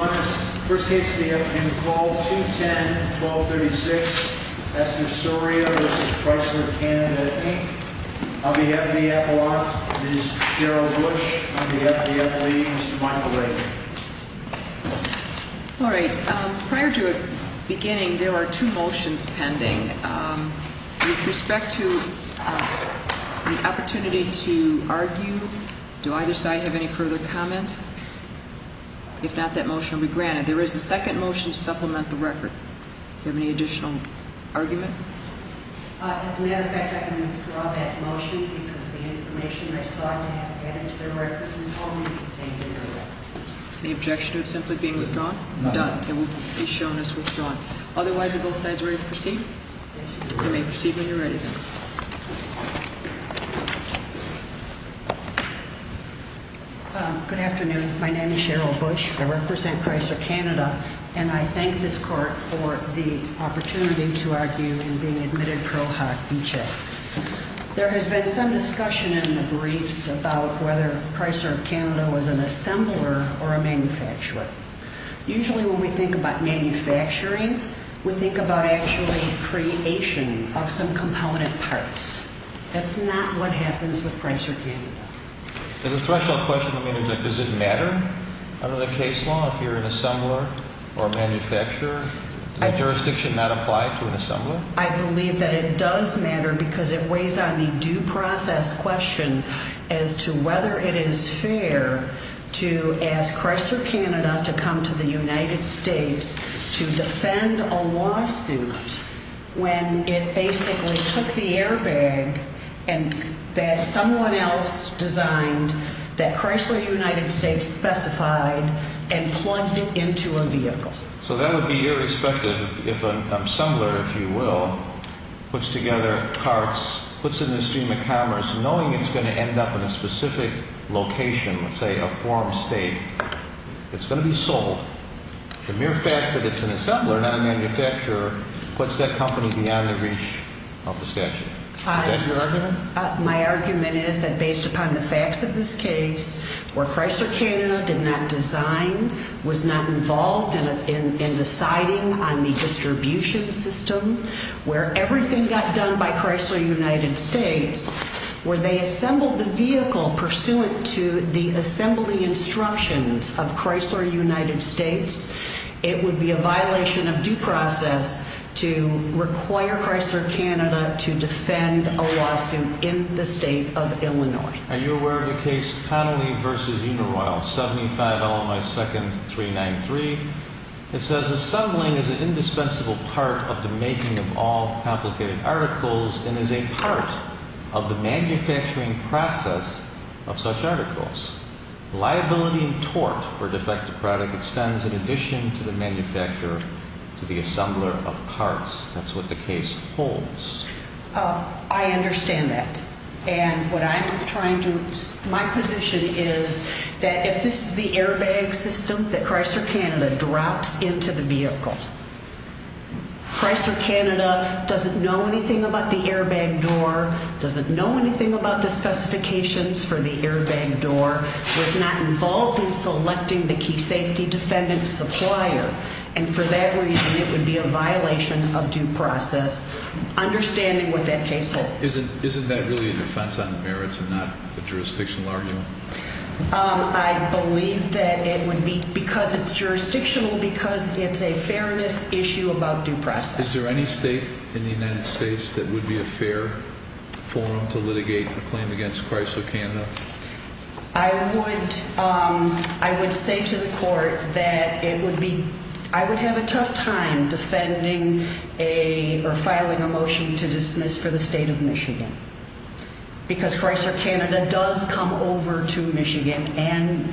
First case in the call, 210-1236, Esther Soria v. Chrysler Canada, Inc. On behalf of the Appalachians, this is Cheryl Bush. On behalf of the Appalachians, this is Michael Ray. Alright, prior to beginning, there are two motions pending. With respect to the opportunity to argue, do either side have any further comment? If not, that motion will be granted. There is a second motion to supplement the record. Do you have any additional argument? As a matter of fact, I can withdraw that motion because the information I sought to have added to the record is only contained in the record. Any objection to it simply being withdrawn? None. It will be shown as withdrawn. Otherwise, are both sides ready to proceed? Yes, Your Honor. You may proceed when you're ready. Thank you. Good afternoon. My name is Cheryl Bush. I represent Chrysler Canada. And I thank this Court for the opportunity to argue in being admitted pro hoc v. check. There has been some discussion in the briefs about whether Chrysler Canada was an assembler or a manufacturer. Usually when we think about manufacturing, we think about actually creation of some component parts. That's not what happens with Chrysler Canada. Does the threshold question, I mean, does it matter under the case law if you're an assembler or a manufacturer? Does that jurisdiction not apply to an assembler? No, I believe that it does matter because it weighs on the due process question as to whether it is fair to ask Chrysler Canada to come to the United States to defend a lawsuit when it basically took the airbag that someone else designed that Chrysler United States specified and plugged it into a vehicle. So that would be irrespective if an assembler, if you will, puts together parts, puts it in the stream of commerce knowing it's going to end up in a specific location, let's say a forum state. It's going to be sold. The mere fact that it's an assembler, not a manufacturer, puts that company beyond the reach of the statute. Is that your argument? My argument is that based upon the facts of this case, where Chrysler Canada did not design, was not involved in deciding on the distribution system, where everything got done by Chrysler United States, where they assembled the vehicle pursuant to the assembly instructions of Chrysler United States, it would be a violation of due process to require Chrysler Canada to defend a lawsuit in the state of Illinois. Are you aware of the case Connolly v. Unaroyal, 75 Illinois 2nd, 393? It says, assembling is an indispensable part of the making of all complicated articles and is a part of the manufacturing process of such articles. Liability and tort for defective product extends in addition to the manufacturer to the assembler of parts. That's what the case holds. I understand that. And what I'm trying to, my position is that if this is the airbag system that Chrysler Canada drops into the vehicle, Chrysler Canada doesn't know anything about the airbag door, doesn't know anything about the specifications for the airbag door. Was not involved in selecting the key safety defendant supplier. And for that reason, it would be a violation of due process. Understanding what that case holds. Isn't that really a defense on the merits and not a jurisdictional argument? I believe that it would be because it's jurisdictional because it's a fairness issue about due process. Is there any state in the United States that would be a fair forum to litigate the claim against Chrysler Canada? I would, um, I would say to the court that it would be, I would have a tough time defending a or filing a motion to dismiss for the state of Michigan. Because Chrysler Canada does come over to Michigan and,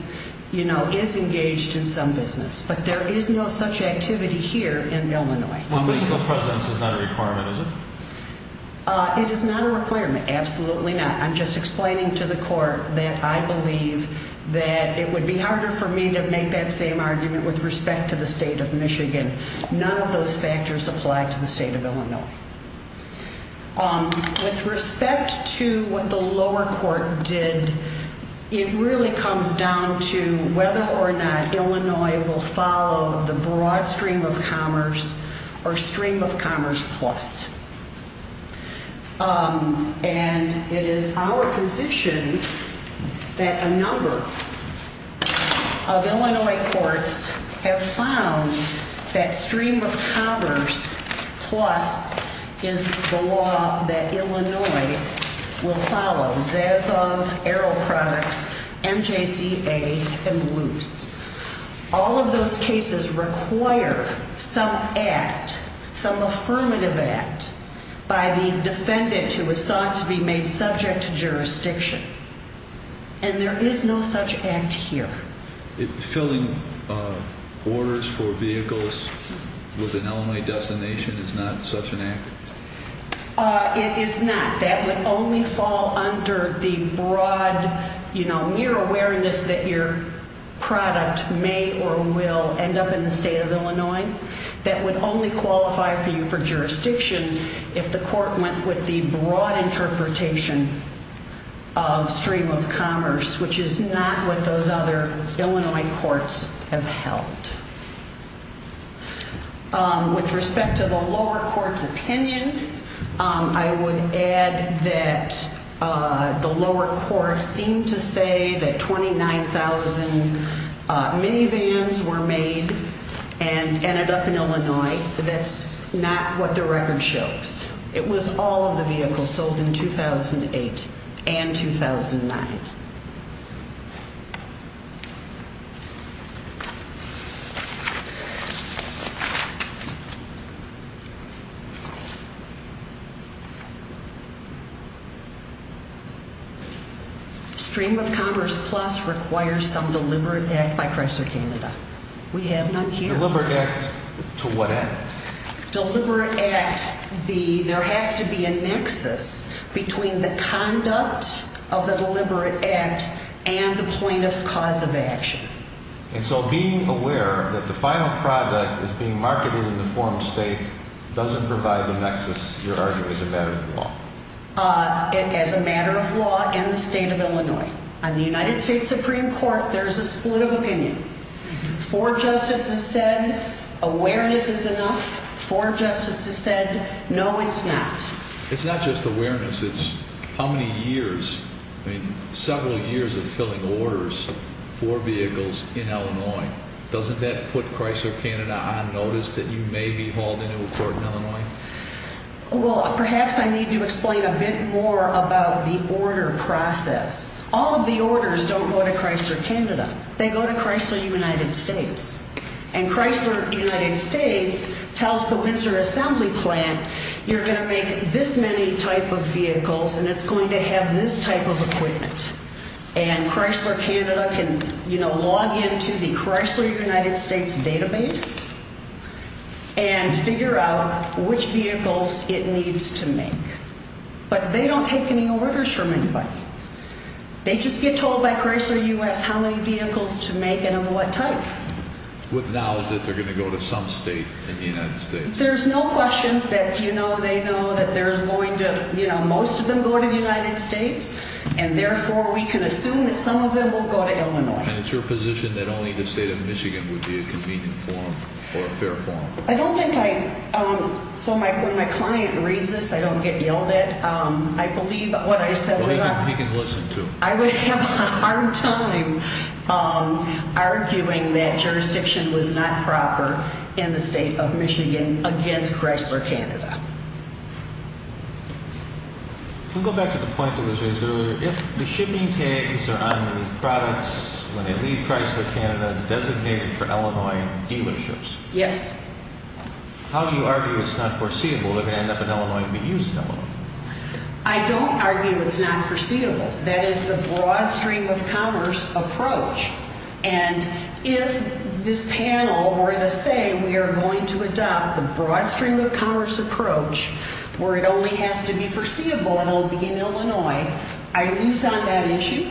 you know, is engaged in some business, but there is no such activity here in Illinois. Physical presence is not a requirement, is it? It is not a requirement. Absolutely not. And I'm just explaining to the court that I believe that it would be harder for me to make that same argument with respect to the state of Michigan. None of those factors apply to the state of Illinois. Um, with respect to what the lower court did, it really comes down to whether or not Illinois will follow the broad stream of commerce or stream of commerce plus. Um, and it is our position that a number of Illinois courts have found that stream of commerce plus is the law that Illinois will follow. All of those cases require some act, some affirmative act by the defendant who was sought to be made subject to jurisdiction. And there is no such act here. Filling orders for vehicles with an Illinois destination is not such an act? It is not. That would only fall under the broad, you know, mere awareness that your product may or will end up in the state of Illinois. That would only qualify for you for jurisdiction if the court went with the broad interpretation of stream of commerce, which is not what those other Illinois courts have held. Um, with respect to the lower court's opinion, I would add that the lower court seemed to say that 29,000 minivans were made and ended up in Illinois. That's not what the record shows. It was all of the vehicles sold in 2008 and 2009. Stream of commerce plus requires some deliberate act by Chrysler Canada. We have none here. Deliberate act to what end? Deliberate act, there has to be a nexus between the conduct of the deliberate act and the plaintiff's cause of action. And so being aware that the final product is being marketed in the form of state doesn't provide the nexus, you're arguing, as a matter of law? As a matter of law and the state of Illinois. On the United States Supreme Court, there is a split of opinion. Four justices said awareness is enough. Four justices said no, it's not. It's not just awareness, it's how many years, several years of filling orders for vehicles in Illinois. Doesn't that put Chrysler Canada on notice that you may be hauled into a court in Illinois? Well, perhaps I need to explain a bit more about the order process. All of the orders don't go to Chrysler Canada. They go to Chrysler United States. And Chrysler United States tells the Windsor Assembly Plant you're going to make this many type of vehicles and it's going to have this type of equipment. And Chrysler Canada can, you know, log into the Chrysler United States database and figure out which vehicles it needs to make. But they don't take any orders from anybody. They just get told by Chrysler U.S. how many vehicles to make and of what type. With knowledge that they're going to go to some state in the United States. There's no question that, you know, they know that there's going to, you know, most of them go to the United States. And therefore, we can assume that some of them will go to Illinois. And it's your position that only the state of Michigan would be a convenient forum or a fair forum? I don't think I, so when my client reads this, I don't get yelled at. I believe what I said was right. Well, he can listen too. I would have a hard time arguing that jurisdiction was not proper in the state of Michigan against Chrysler Canada. We'll go back to the point that was raised earlier. If the shipping tags are on the products when they leave Chrysler Canada designated for Illinois dealerships. Yes. How do you argue it's not foreseeable they're going to end up in Illinois and be used in Illinois? I don't argue it's not foreseeable. That is the broad stream of commerce approach. And if this panel were to say we are going to adopt the broad stream of commerce approach where it only has to be foreseeable and it will be in Illinois, I lose on that issue.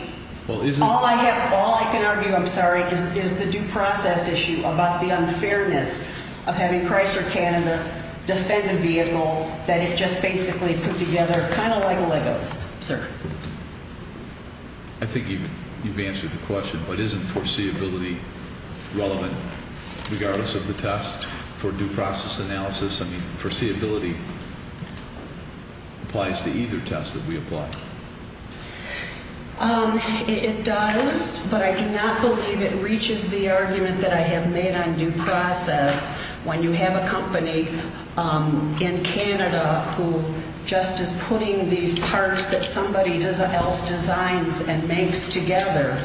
All I can argue, I'm sorry, is the due process issue about the unfairness of having Chrysler Canada defend a vehicle that it just basically put together kind of like Legos, sir. I think you've answered the question. But isn't foreseeability relevant regardless of the test for due process analysis? I mean, foreseeability applies to either test that we apply. It does, but I cannot believe it reaches the argument that I have made on due process. When you have a company in Canada who just is putting these parts that somebody else designs and makes together,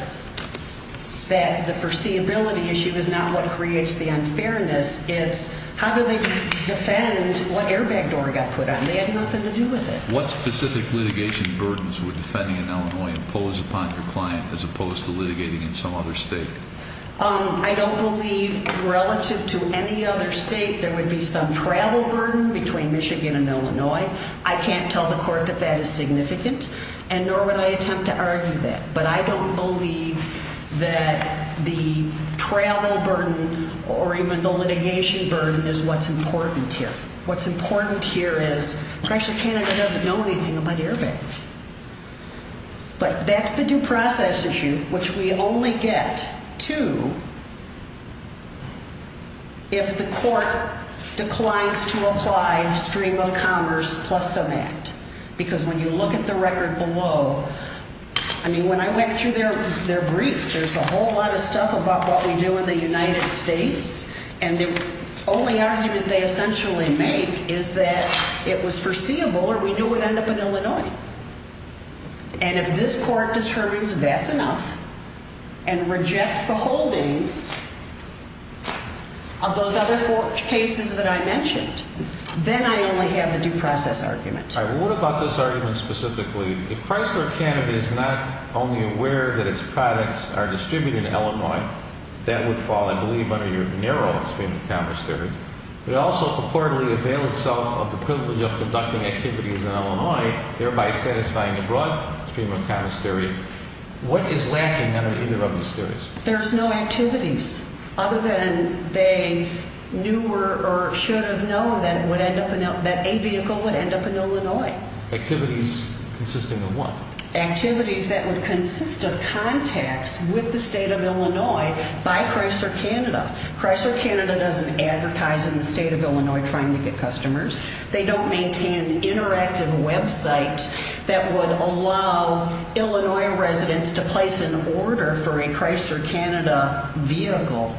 that the foreseeability issue is not what creates the unfairness. It's how do they defend what airbag door got put on. They had nothing to do with it. What specific litigation burdens would defending in Illinois impose upon your client as opposed to litigating in some other state? I don't believe relative to any other state there would be some travel burden between Michigan and Illinois. I can't tell the court that that is significant and nor would I attempt to argue that. But I don't believe that the travel burden or even the litigation burden is what's important here. What's important here is actually Canada doesn't know anything about airbags. But that's the due process issue, which we only get to if the court declines to apply stream of commerce plus some act. Because when you look at the record below, I mean, when I went through their brief, there's a whole lot of stuff about what we do in the United States. And the only argument they essentially make is that it was foreseeable or we knew it would end up in Illinois. And if this court determines that's enough and rejects the holdings of those other four cases that I mentioned, then I only have the due process argument. What about this argument specifically? If Chrysler Canada is not only aware that its products are distributed in Illinois, that would fall, I believe, under your narrow stream of commerce theory. It also purportedly availed itself of the privilege of conducting activities in Illinois, thereby satisfying the broad stream of commerce theory. What is lacking under either of those theories? There's no activities other than they knew or should have known that a vehicle would end up in Illinois. Activities consisting of what? Activities that would consist of contacts with the state of Illinois by Chrysler Canada. Chrysler Canada doesn't advertise in the state of Illinois trying to get customers. They don't maintain interactive websites that would allow Illinois residents to place an order for a Chrysler Canada vehicle.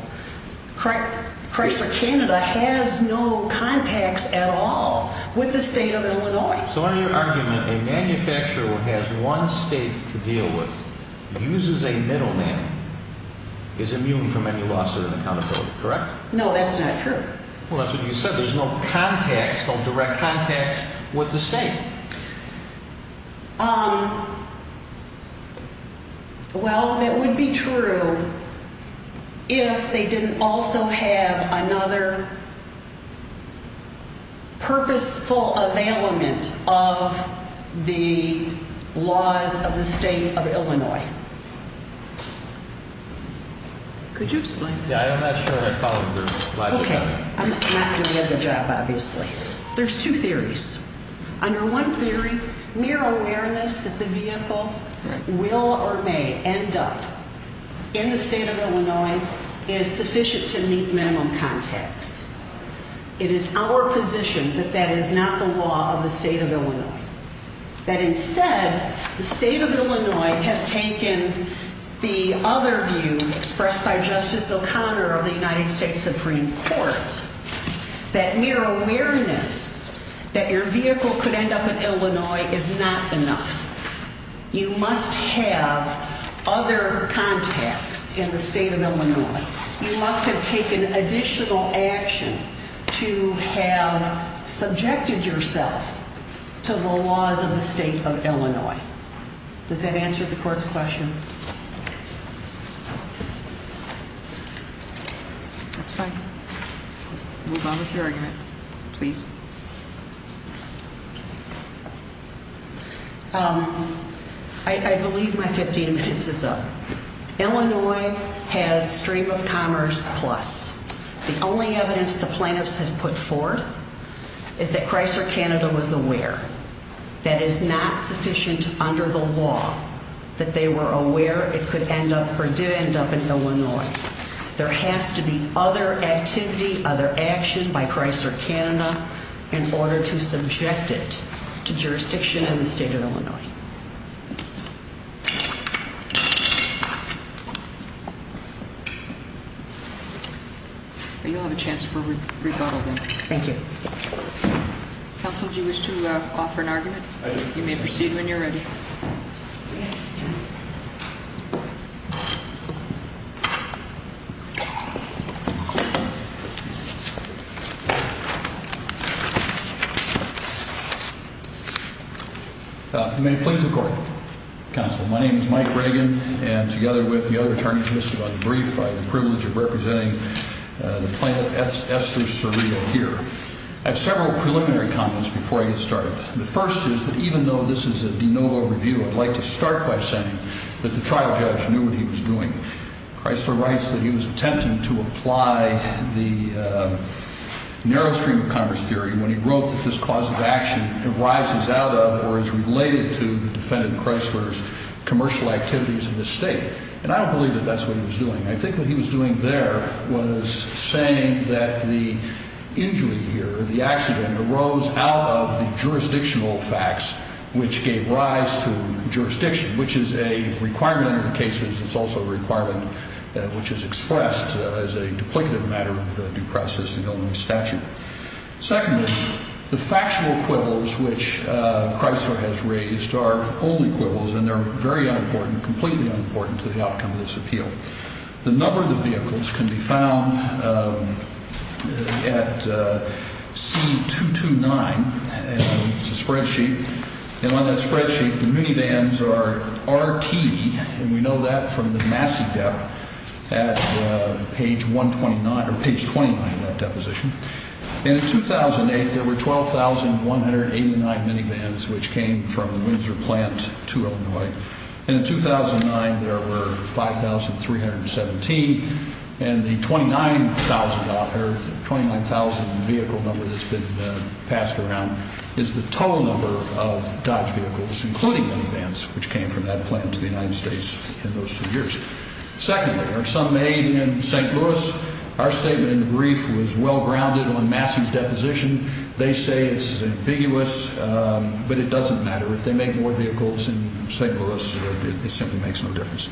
Chrysler Canada has no contacts at all with the state of Illinois. So under your argument, a manufacturer who has one state to deal with, uses a middleman, is immune from any loss of an accountability, correct? No, that's not true. Well, that's what you said. There's no direct contacts with the state. Well, that would be true if they didn't also have another purposeful availment of the laws of the state of Illinois. Could you explain that? Yeah, I'm not sure I follow the group. Okay, I'm not going to read the job, obviously. There's two theories. Under one theory, mere awareness that the vehicle will or may end up in the state of Illinois is sufficient to meet minimum contacts. It is our position that that is not the law of the state of Illinois. That instead, the state of Illinois has taken the other view expressed by Justice O'Connor of the United States Supreme Court. That mere awareness that your vehicle could end up in Illinois is not enough. You must have other contacts in the state of Illinois. You must have taken additional action to have subjected yourself to the laws of the state of Illinois. Does that answer the court's question? That's fine. Move on with your argument, please. I believe my 15 minutes is up. Illinois has stream of commerce plus. The only evidence the plaintiffs have put forth is that Chrysler Canada was aware. That is not sufficient under the law that they were aware it could end up or did end up in Illinois. There has to be other activity, other actions by Chrysler Canada in order to subject it to jurisdiction in the state of Illinois. You'll have a chance for rebuttal. Thank you. Counsel, do you wish to offer an argument? I do. You may proceed when you're ready. Thank you. May it please the court. Counsel, my name is Mike Reagan. And together with the other attorneys listed on the brief, I have the privilege of representing the plaintiff, Esther Serino, here. I have several preliminary comments before I get started. The first is that even though this is a de novo review, I'd like to start by saying that the trial judge knew what he was doing. Chrysler writes that he was attempting to apply the narrow stream of commerce theory when he wrote that this cause of action arises out of or is related to the defendant Chrysler's commercial activities in the state. And I don't believe that that's what he was doing. I think what he was doing there was saying that the injury here, the accident arose out of the jurisdictional facts which gave rise to jurisdiction, which is a requirement in the case. It's also a requirement which is expressed as a duplicative matter of the due process and Illinois statute. Secondly, the factual quibbles which Chrysler has raised are only quibbles and they're very unimportant, completely unimportant to the outcome of this appeal. The number of the vehicles can be found at C229. It's a spreadsheet. And on that spreadsheet, the minivans are RT, and we know that from the Massey debt at page 129, or page 29 of that deposition. And in 2008, there were 12,189 minivans which came from the Windsor plant to Illinois. And in 2009, there were 5,317, and the 29,000 vehicle number that's been passed around is the total number of Dodge vehicles, including minivans, which came from that plant to the United States in those two years. Secondly, are some made in St. Louis? Our statement in the brief was well-grounded on Massey's deposition. They say it's ambiguous, but it doesn't matter. If they make more vehicles in St. Louis, it simply makes no difference.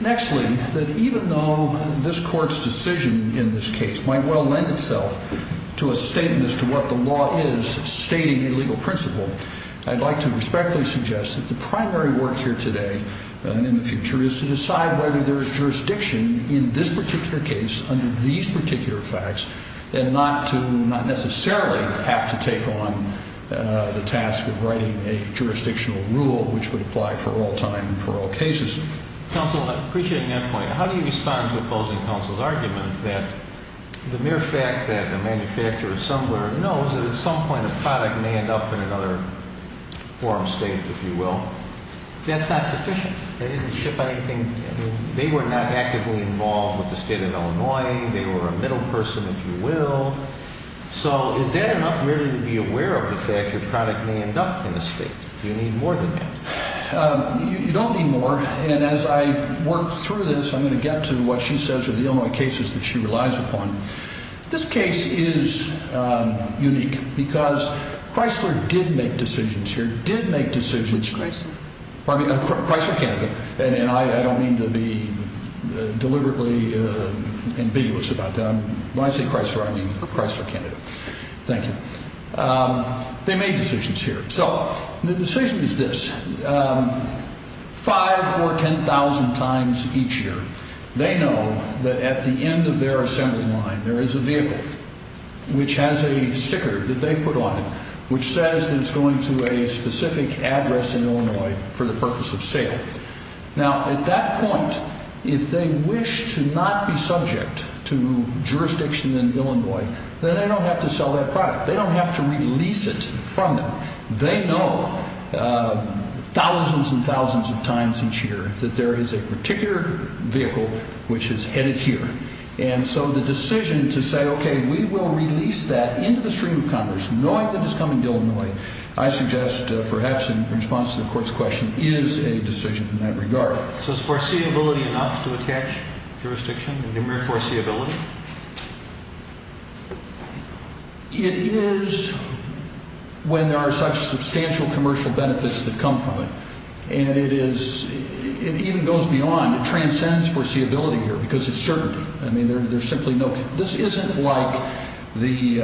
Nextly, that even though this court's decision in this case might well lend itself to a statement as to what the law is stating a legal principle, I'd like to respectfully suggest that the primary work here today and in the future is to decide whether there is jurisdiction in this particular case under these particular facts and not to necessarily have to take on the task of writing a jurisdictional rule which would apply for all time and for all cases. Counsel, I'm appreciating that point. How do you respond to opposing counsel's argument that the mere fact that a manufacturer or assembler knows that at some point a product may end up in another forum state, if you will? That's not sufficient. They didn't ship anything. They were not actively involved with the state of Illinois. They were a middle person, if you will. So is that enough really to be aware of the fact your product may end up in a state? Do you need more than that? You don't need more. And as I work through this, I'm going to get to what she says are the Illinois cases that she relies upon. This case is unique because Chrysler did make decisions here, did make decisions. Which Chrysler? Chrysler Canada. And I don't mean to be deliberately ambiguous about that. When I say Chrysler, I mean Chrysler Canada. Thank you. They made decisions here. So the decision is this. Five or 10,000 times each year, they know that at the end of their assembly line there is a vehicle which has a sticker that they put on it which says that it's going to a specific address in Illinois for the purpose of sale. Now, at that point, if they wish to not be subject to jurisdiction in Illinois, then they don't have to sell that product. They don't have to release it from them. They know thousands and thousands of times each year that there is a particular vehicle which is headed here. And so the decision to say, okay, we will release that into the stream of Congress, knowing that it's coming to Illinois, I suggest perhaps in response to the Court's question, is a decision in that regard. So is foreseeability enough to attach jurisdiction to the mere foreseeability? It is when there are such substantial commercial benefits that come from it. And it is, it even goes beyond, it transcends foreseeability here because it's certainty. I mean, there's simply no, this isn't like the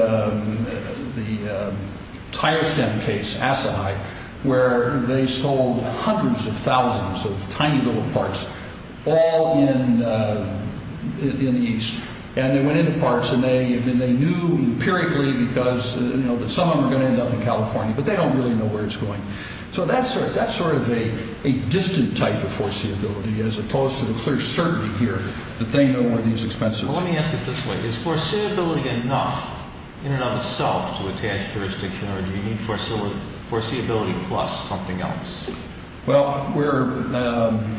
tire stem case, Asahai, where they sold hundreds of thousands of tiny little parts all in the east. And they went into parts and they knew empirically because, you know, that some of them are going to end up in California. But they don't really know where it's going. So that's sort of a distant type of foreseeability as opposed to the clear certainty here that they know where it is expensive. Well, let me ask it this way. Is foreseeability enough in and of itself to attach jurisdiction or do you need foreseeability plus something else? Well, we're...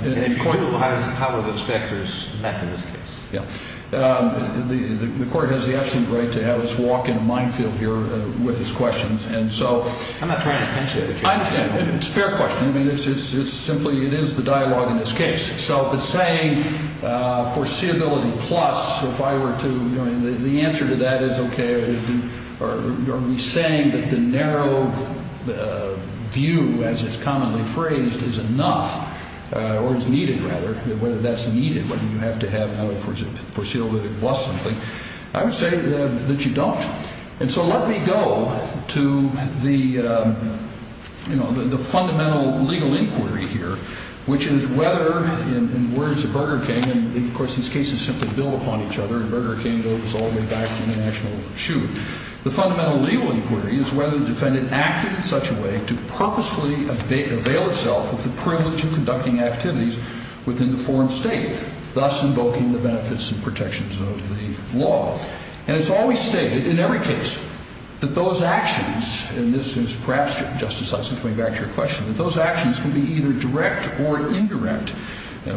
If you do, how are those factors met in this case? Yeah. The Court has the absolute right to have us walk in a minefield here with this question. And so... I'm not trying to tension you. I understand. It's a fair question. I mean, it's simply, it is the dialogue in this case. So if it's saying foreseeability plus, if I were to, I mean, the answer to that is okay. Are we saying that the narrow view, as it's commonly phrased, is enough or is needed rather, whether that's needed, whether you have to have foreseeability plus something. I would say that you don't. And so let me go to the fundamental legal inquiry here, which is whether, in words of Burger King, and, of course, these cases simply build upon each other, and Burger King goes all the way back to international shooting. The fundamental legal inquiry is whether the defendant acted in such a way to purposefully avail itself of the privilege of conducting activities within the foreign state, thus invoking the benefits and protections of the law. And it's always stated, in every case, that those actions, and this is perhaps, Justice Hudson, coming back to your question, that those actions can be either direct or indirect.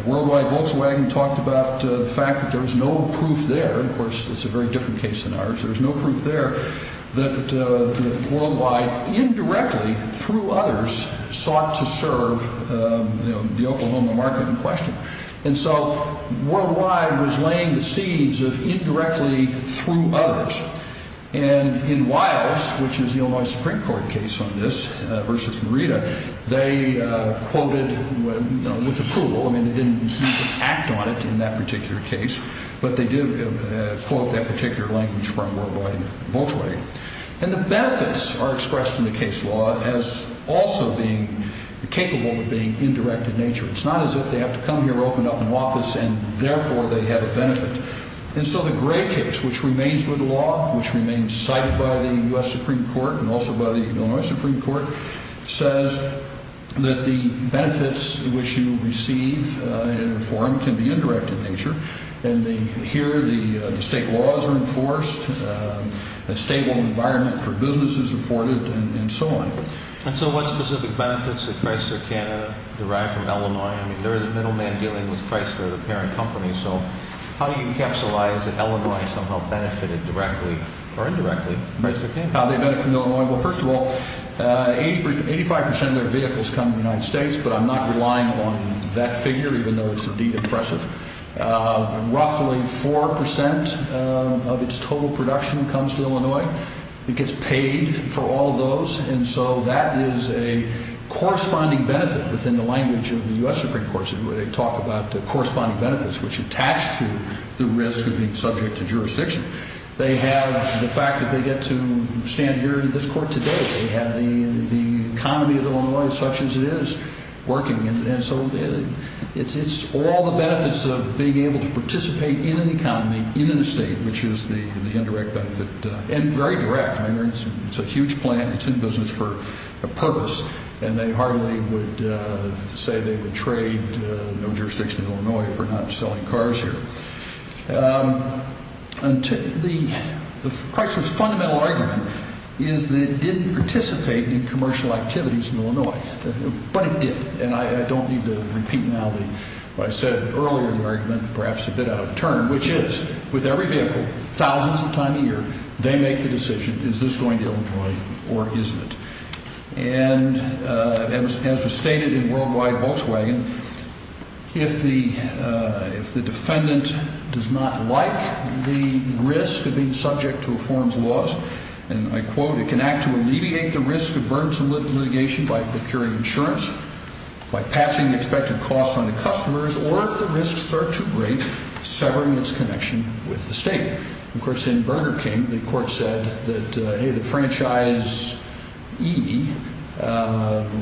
Worldwide Volkswagen talked about the fact that there was no proof there. Of course, it's a very different case than ours. There was no proof there that Worldwide indirectly, through others, sought to serve the Oklahoma market in question. And so Worldwide was laying the seeds of indirectly through others. And in Wiles, which is the Illinois Supreme Court case on this, versus Merida, they quoted with approval. I mean, they didn't act on it in that particular case, but they did quote that particular language from Worldwide Volkswagen. And the benefits are expressed in the case law as also being capable of being indirect in nature. It's not as if they have to come here opened up in office and therefore they have a benefit. And so the Gray case, which remains with the law, which remains cited by the U.S. Supreme Court and also by the Illinois Supreme Court, says that the benefits which you receive in a forum can be indirect in nature. And here the state laws are enforced, a stable environment for business is afforded, and so on. And so what specific benefits did Chrysler Canada derive from Illinois? I mean, they're the middleman dealing with Chrysler, the parent company. So how do you capsulize that Illinois somehow benefited directly or indirectly from Chrysler Canada? How they benefit from Illinois? Well, first of all, 85 percent of their vehicles come to the United States, but I'm not relying on that figure, even though it's indeed impressive. It gets paid for all those, and so that is a corresponding benefit within the language of the U.S. Supreme Court, where they talk about the corresponding benefits which attach to the risk of being subject to jurisdiction. They have the fact that they get to stand here in this court today. They have the economy of Illinois as such as it is working. And so it's all the benefits of being able to participate in an economy in a state, which is the indirect benefit. And very direct, I mean, it's a huge plant. It's in business for a purpose, and they hardly would say they would trade no jurisdiction in Illinois for not selling cars here. The Chrysler's fundamental argument is that it didn't participate in commercial activities in Illinois, but it did. And I don't need to repeat now what I said earlier in the argument, perhaps a bit out of turn, which is with every vehicle, thousands of times a year, they make the decision, is this going to Illinois or isn't it? And as was stated in Worldwide Volkswagen, if the defendant does not like the risk of being subject to a foreign's laws, and I quote, it can act to alleviate the risk of burdensome litigation by procuring insurance, by passing the expected cost on the customers, or if the risks are too great, severing its connection with the state. Of course, in Burger King, the court said that, hey, the franchisee,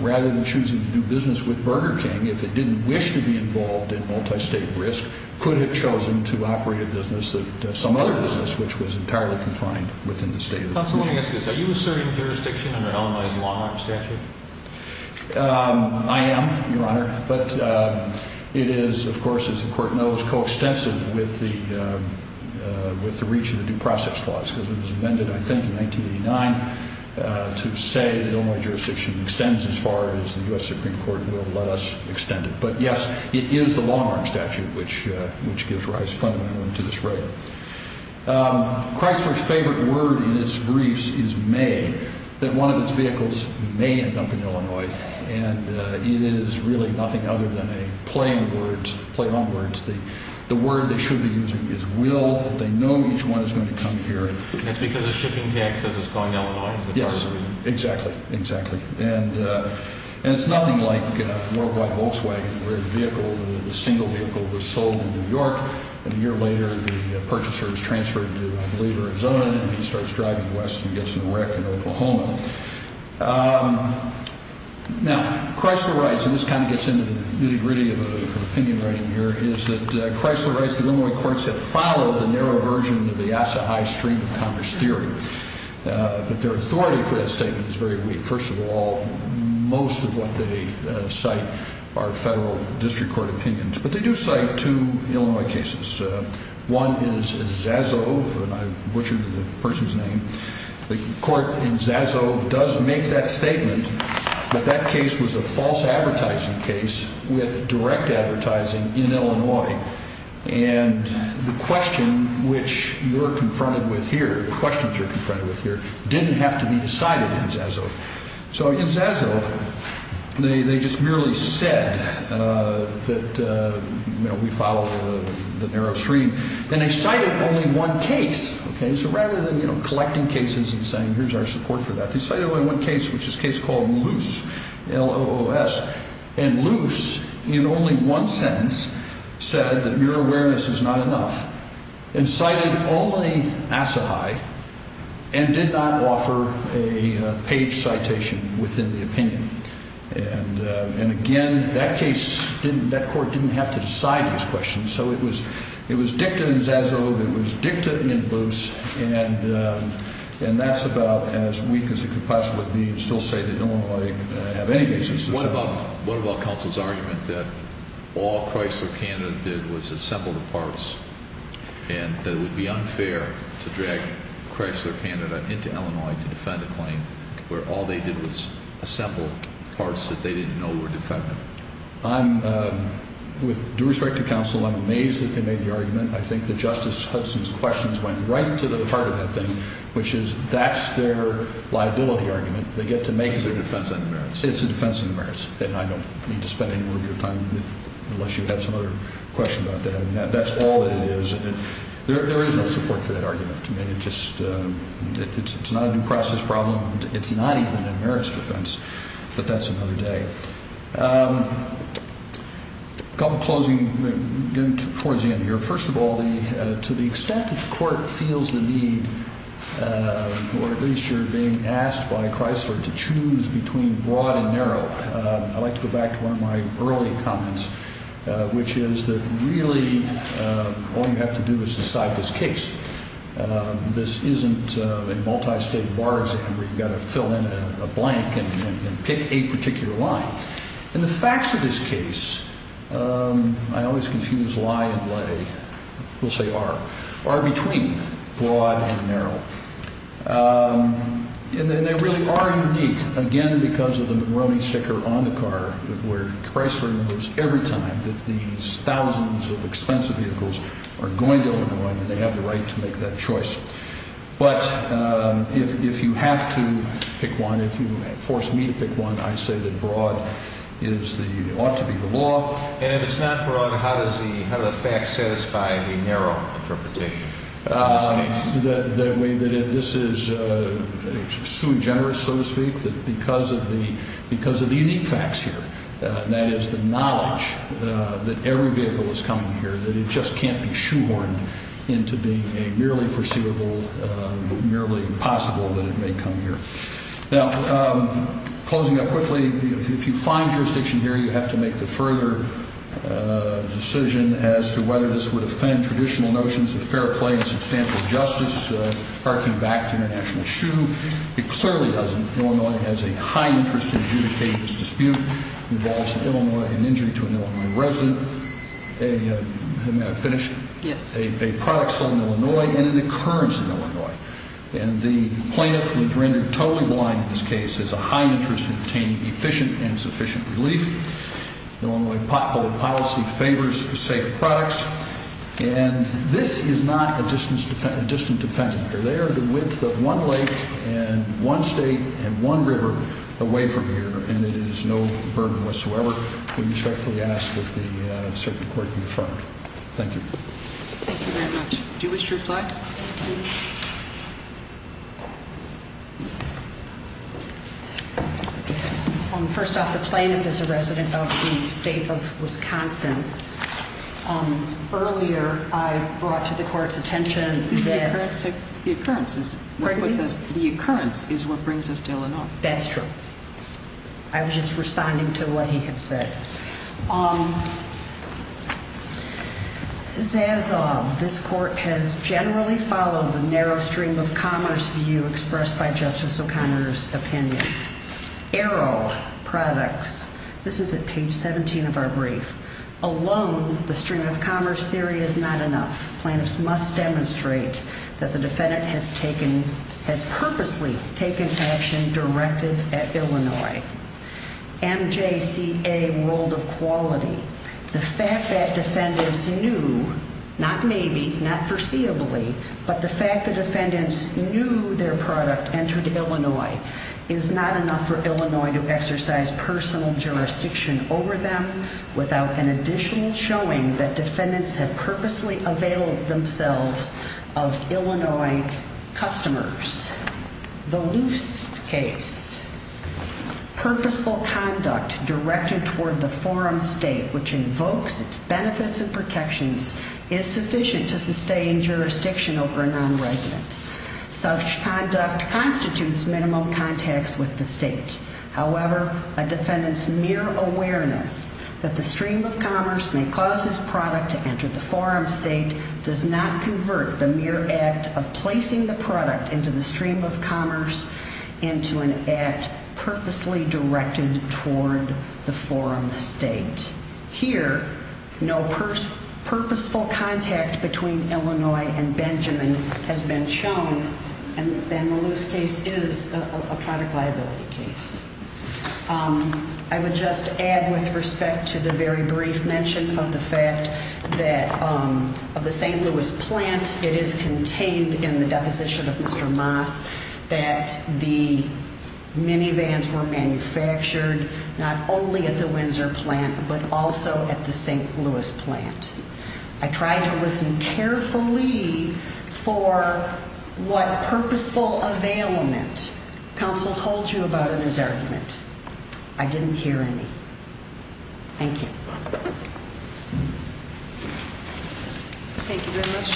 rather than choosing to do business with Burger King, if it didn't wish to be involved in multi-state risk, could have chosen to operate a business, some other business, which was entirely confined within the state of the commission. So let me ask this, are you asserting jurisdiction under Illinois' long-arm statute? I am, Your Honor, but it is, of course, as the court knows, coextensive with the reach of the Due Process Clause, because it was amended, I think, in 1989 to say that Illinois jurisdiction extends as far as the U.S. Supreme Court will let us extend it. But yes, it is the long-arm statute which gives rise fundamentally to this rigor. Chrysler's favorite word in its briefs is may, that one of its vehicles may end up in Illinois, and it is really nothing other than a play on words. The word they should be using is will. They know each one is going to come here. That's because the shipping tax says it's going to Illinois. Yes, exactly, exactly. And it's nothing like Worldwide Volkswagen, where the vehicle, the single vehicle, was sold in New York, and a year later the purchaser is transferred to, I believe, Arizona, and he starts driving west and gets in a wreck in Oklahoma. Now, Chrysler writes, and this kind of gets into the nitty-gritty of the opinion writing here, is that Chrysler writes that Illinois courts have followed the narrow version of the Asa High Stream of Congress theory. But their authority for that statement is very weak. First of all, most of what they cite are federal district court opinions. But they do cite two Illinois cases. One is Zazove, and I butchered the person's name. The court in Zazove does make that statement, but that case was a false advertising case with direct advertising in Illinois. And the question which you're confronted with here, the questions you're confronted with here, didn't have to be decided in Zazove. So in Zazove, they just merely said that, you know, we follow the narrow stream. And they cited only one case. Okay, so rather than, you know, collecting cases and saying here's our support for that, they cited only one case, which is a case called Loose, L-O-O-S. And Loose, in only one sentence, said that your awareness is not enough, and cited only Asa High and did not offer a page citation within the opinion. And, again, that case didn't – that court didn't have to decide these questions. So it was dicta in Zazove. It was dicta in Loose. And that's about as weak as it could possibly be to still say that Illinois have any basis to say that. What about counsel's argument that all Chrysler Canada did was assemble the parts and that it would be unfair to drag Chrysler Canada into Illinois to defend a claim where all they did was assemble parts that they didn't know were defendant? With due respect to counsel, I'm amazed that they made the argument. I think that Justice Hudson's questions went right to the heart of that thing, which is that's their liability argument. They get to make it. It's a defense of the merits. It's a defense of the merits. And I don't need to spend any more of your time unless you have some other question about that. And that's all that it is. There is no support for that argument. I mean, it just – it's not a due process problem. It's not even a merits defense. But that's another day. A couple closing – getting towards the end here. First of all, to the extent that the court feels the need, or at least you're being asked by Chrysler, to choose between broad and narrow, I'd like to go back to one of my early comments, which is that really all you have to do is decide this case. This isn't a multi-state bar exam where you've got to fill in a blank and pick a particular line. And the facts of this case, I always confuse lie and lay. We'll say are. Are between broad and narrow. And they really are unique, again, because of the McRoney sticker on the car, where Chrysler knows every time that these thousands of expensive vehicles are going to Illinois and they have the right to make that choice. But if you have to pick one, if you force me to pick one, I say that broad is the – ought to be the law. And if it's not broad, how does the fact satisfy the narrow interpretation of this case? The way that this is sui generis, so to speak, that because of the unique facts here, that is the knowledge that every vehicle is coming here, that it just can't be shoehorned into being a merely foreseeable, merely possible that it may come here. Now, closing up quickly, if you find jurisdiction here, you have to make the further decision as to whether this would offend traditional notions of fair play and substantial justice, arcing back to international shoe. It clearly doesn't. Illinois has a high interest in adjudicating this dispute. It involves in Illinois an injury to an Illinois resident, a – finish? Yes. A product sold in Illinois and an occurrence in Illinois. And the plaintiff was rendered totally blind in this case. There's a high interest in obtaining efficient and sufficient relief. Illinois public policy favors safe products. And this is not a distant defendant. They are the width of one lake and one state and one river away from here, and it is no burden whatsoever. We respectfully ask that the circuit court be affirmed. Thank you. Thank you very much. Do you wish to reply? First off, the plaintiff is a resident of the state of Wisconsin. Earlier, I brought to the court's attention that – The occurrence is – Pardon me? The occurrence is what brings us to Illinois. That's true. I was just responding to what he had said. Zazov, this court has generally followed the narrow stream of commerce view expressed by Justice O'Connor's opinion. Arrow Products. This is at page 17 of our brief. Alone, the stream of commerce theory is not enough. Plaintiffs must demonstrate that the defendant has purposely taken action directed at Illinois. MJCA World of Quality. The fact that defendants knew – not maybe, not foreseeably – but the fact that defendants knew their product entered Illinois is not enough for Illinois to exercise personal jurisdiction over them without an additional showing that defendants have purposely availed themselves of Illinois customers. The Loose Case. Purposeful conduct directed toward the forum state which invokes its benefits and protections is sufficient to sustain jurisdiction over a non-resident. Such conduct constitutes minimum contacts with the state. However, a defendant's mere awareness that the stream of commerce may cause his product to enter the forum state does not convert the mere act of placing the product into the stream of commerce into an act purposely directed toward the forum state. Here, no purposeful contact between Illinois and Benjamin has been shown, and the Loose Case is a product liability case. I would just add with respect to the very brief mention of the fact that of the St. Louis plant, it is contained in the deposition of Mr. Moss that the minivans were manufactured not only at the Windsor plant but also at the St. Louis plant. I tried to listen carefully for what purposeful availment counsel told you about in his argument. I didn't hear any. Thank you. Thank you very much.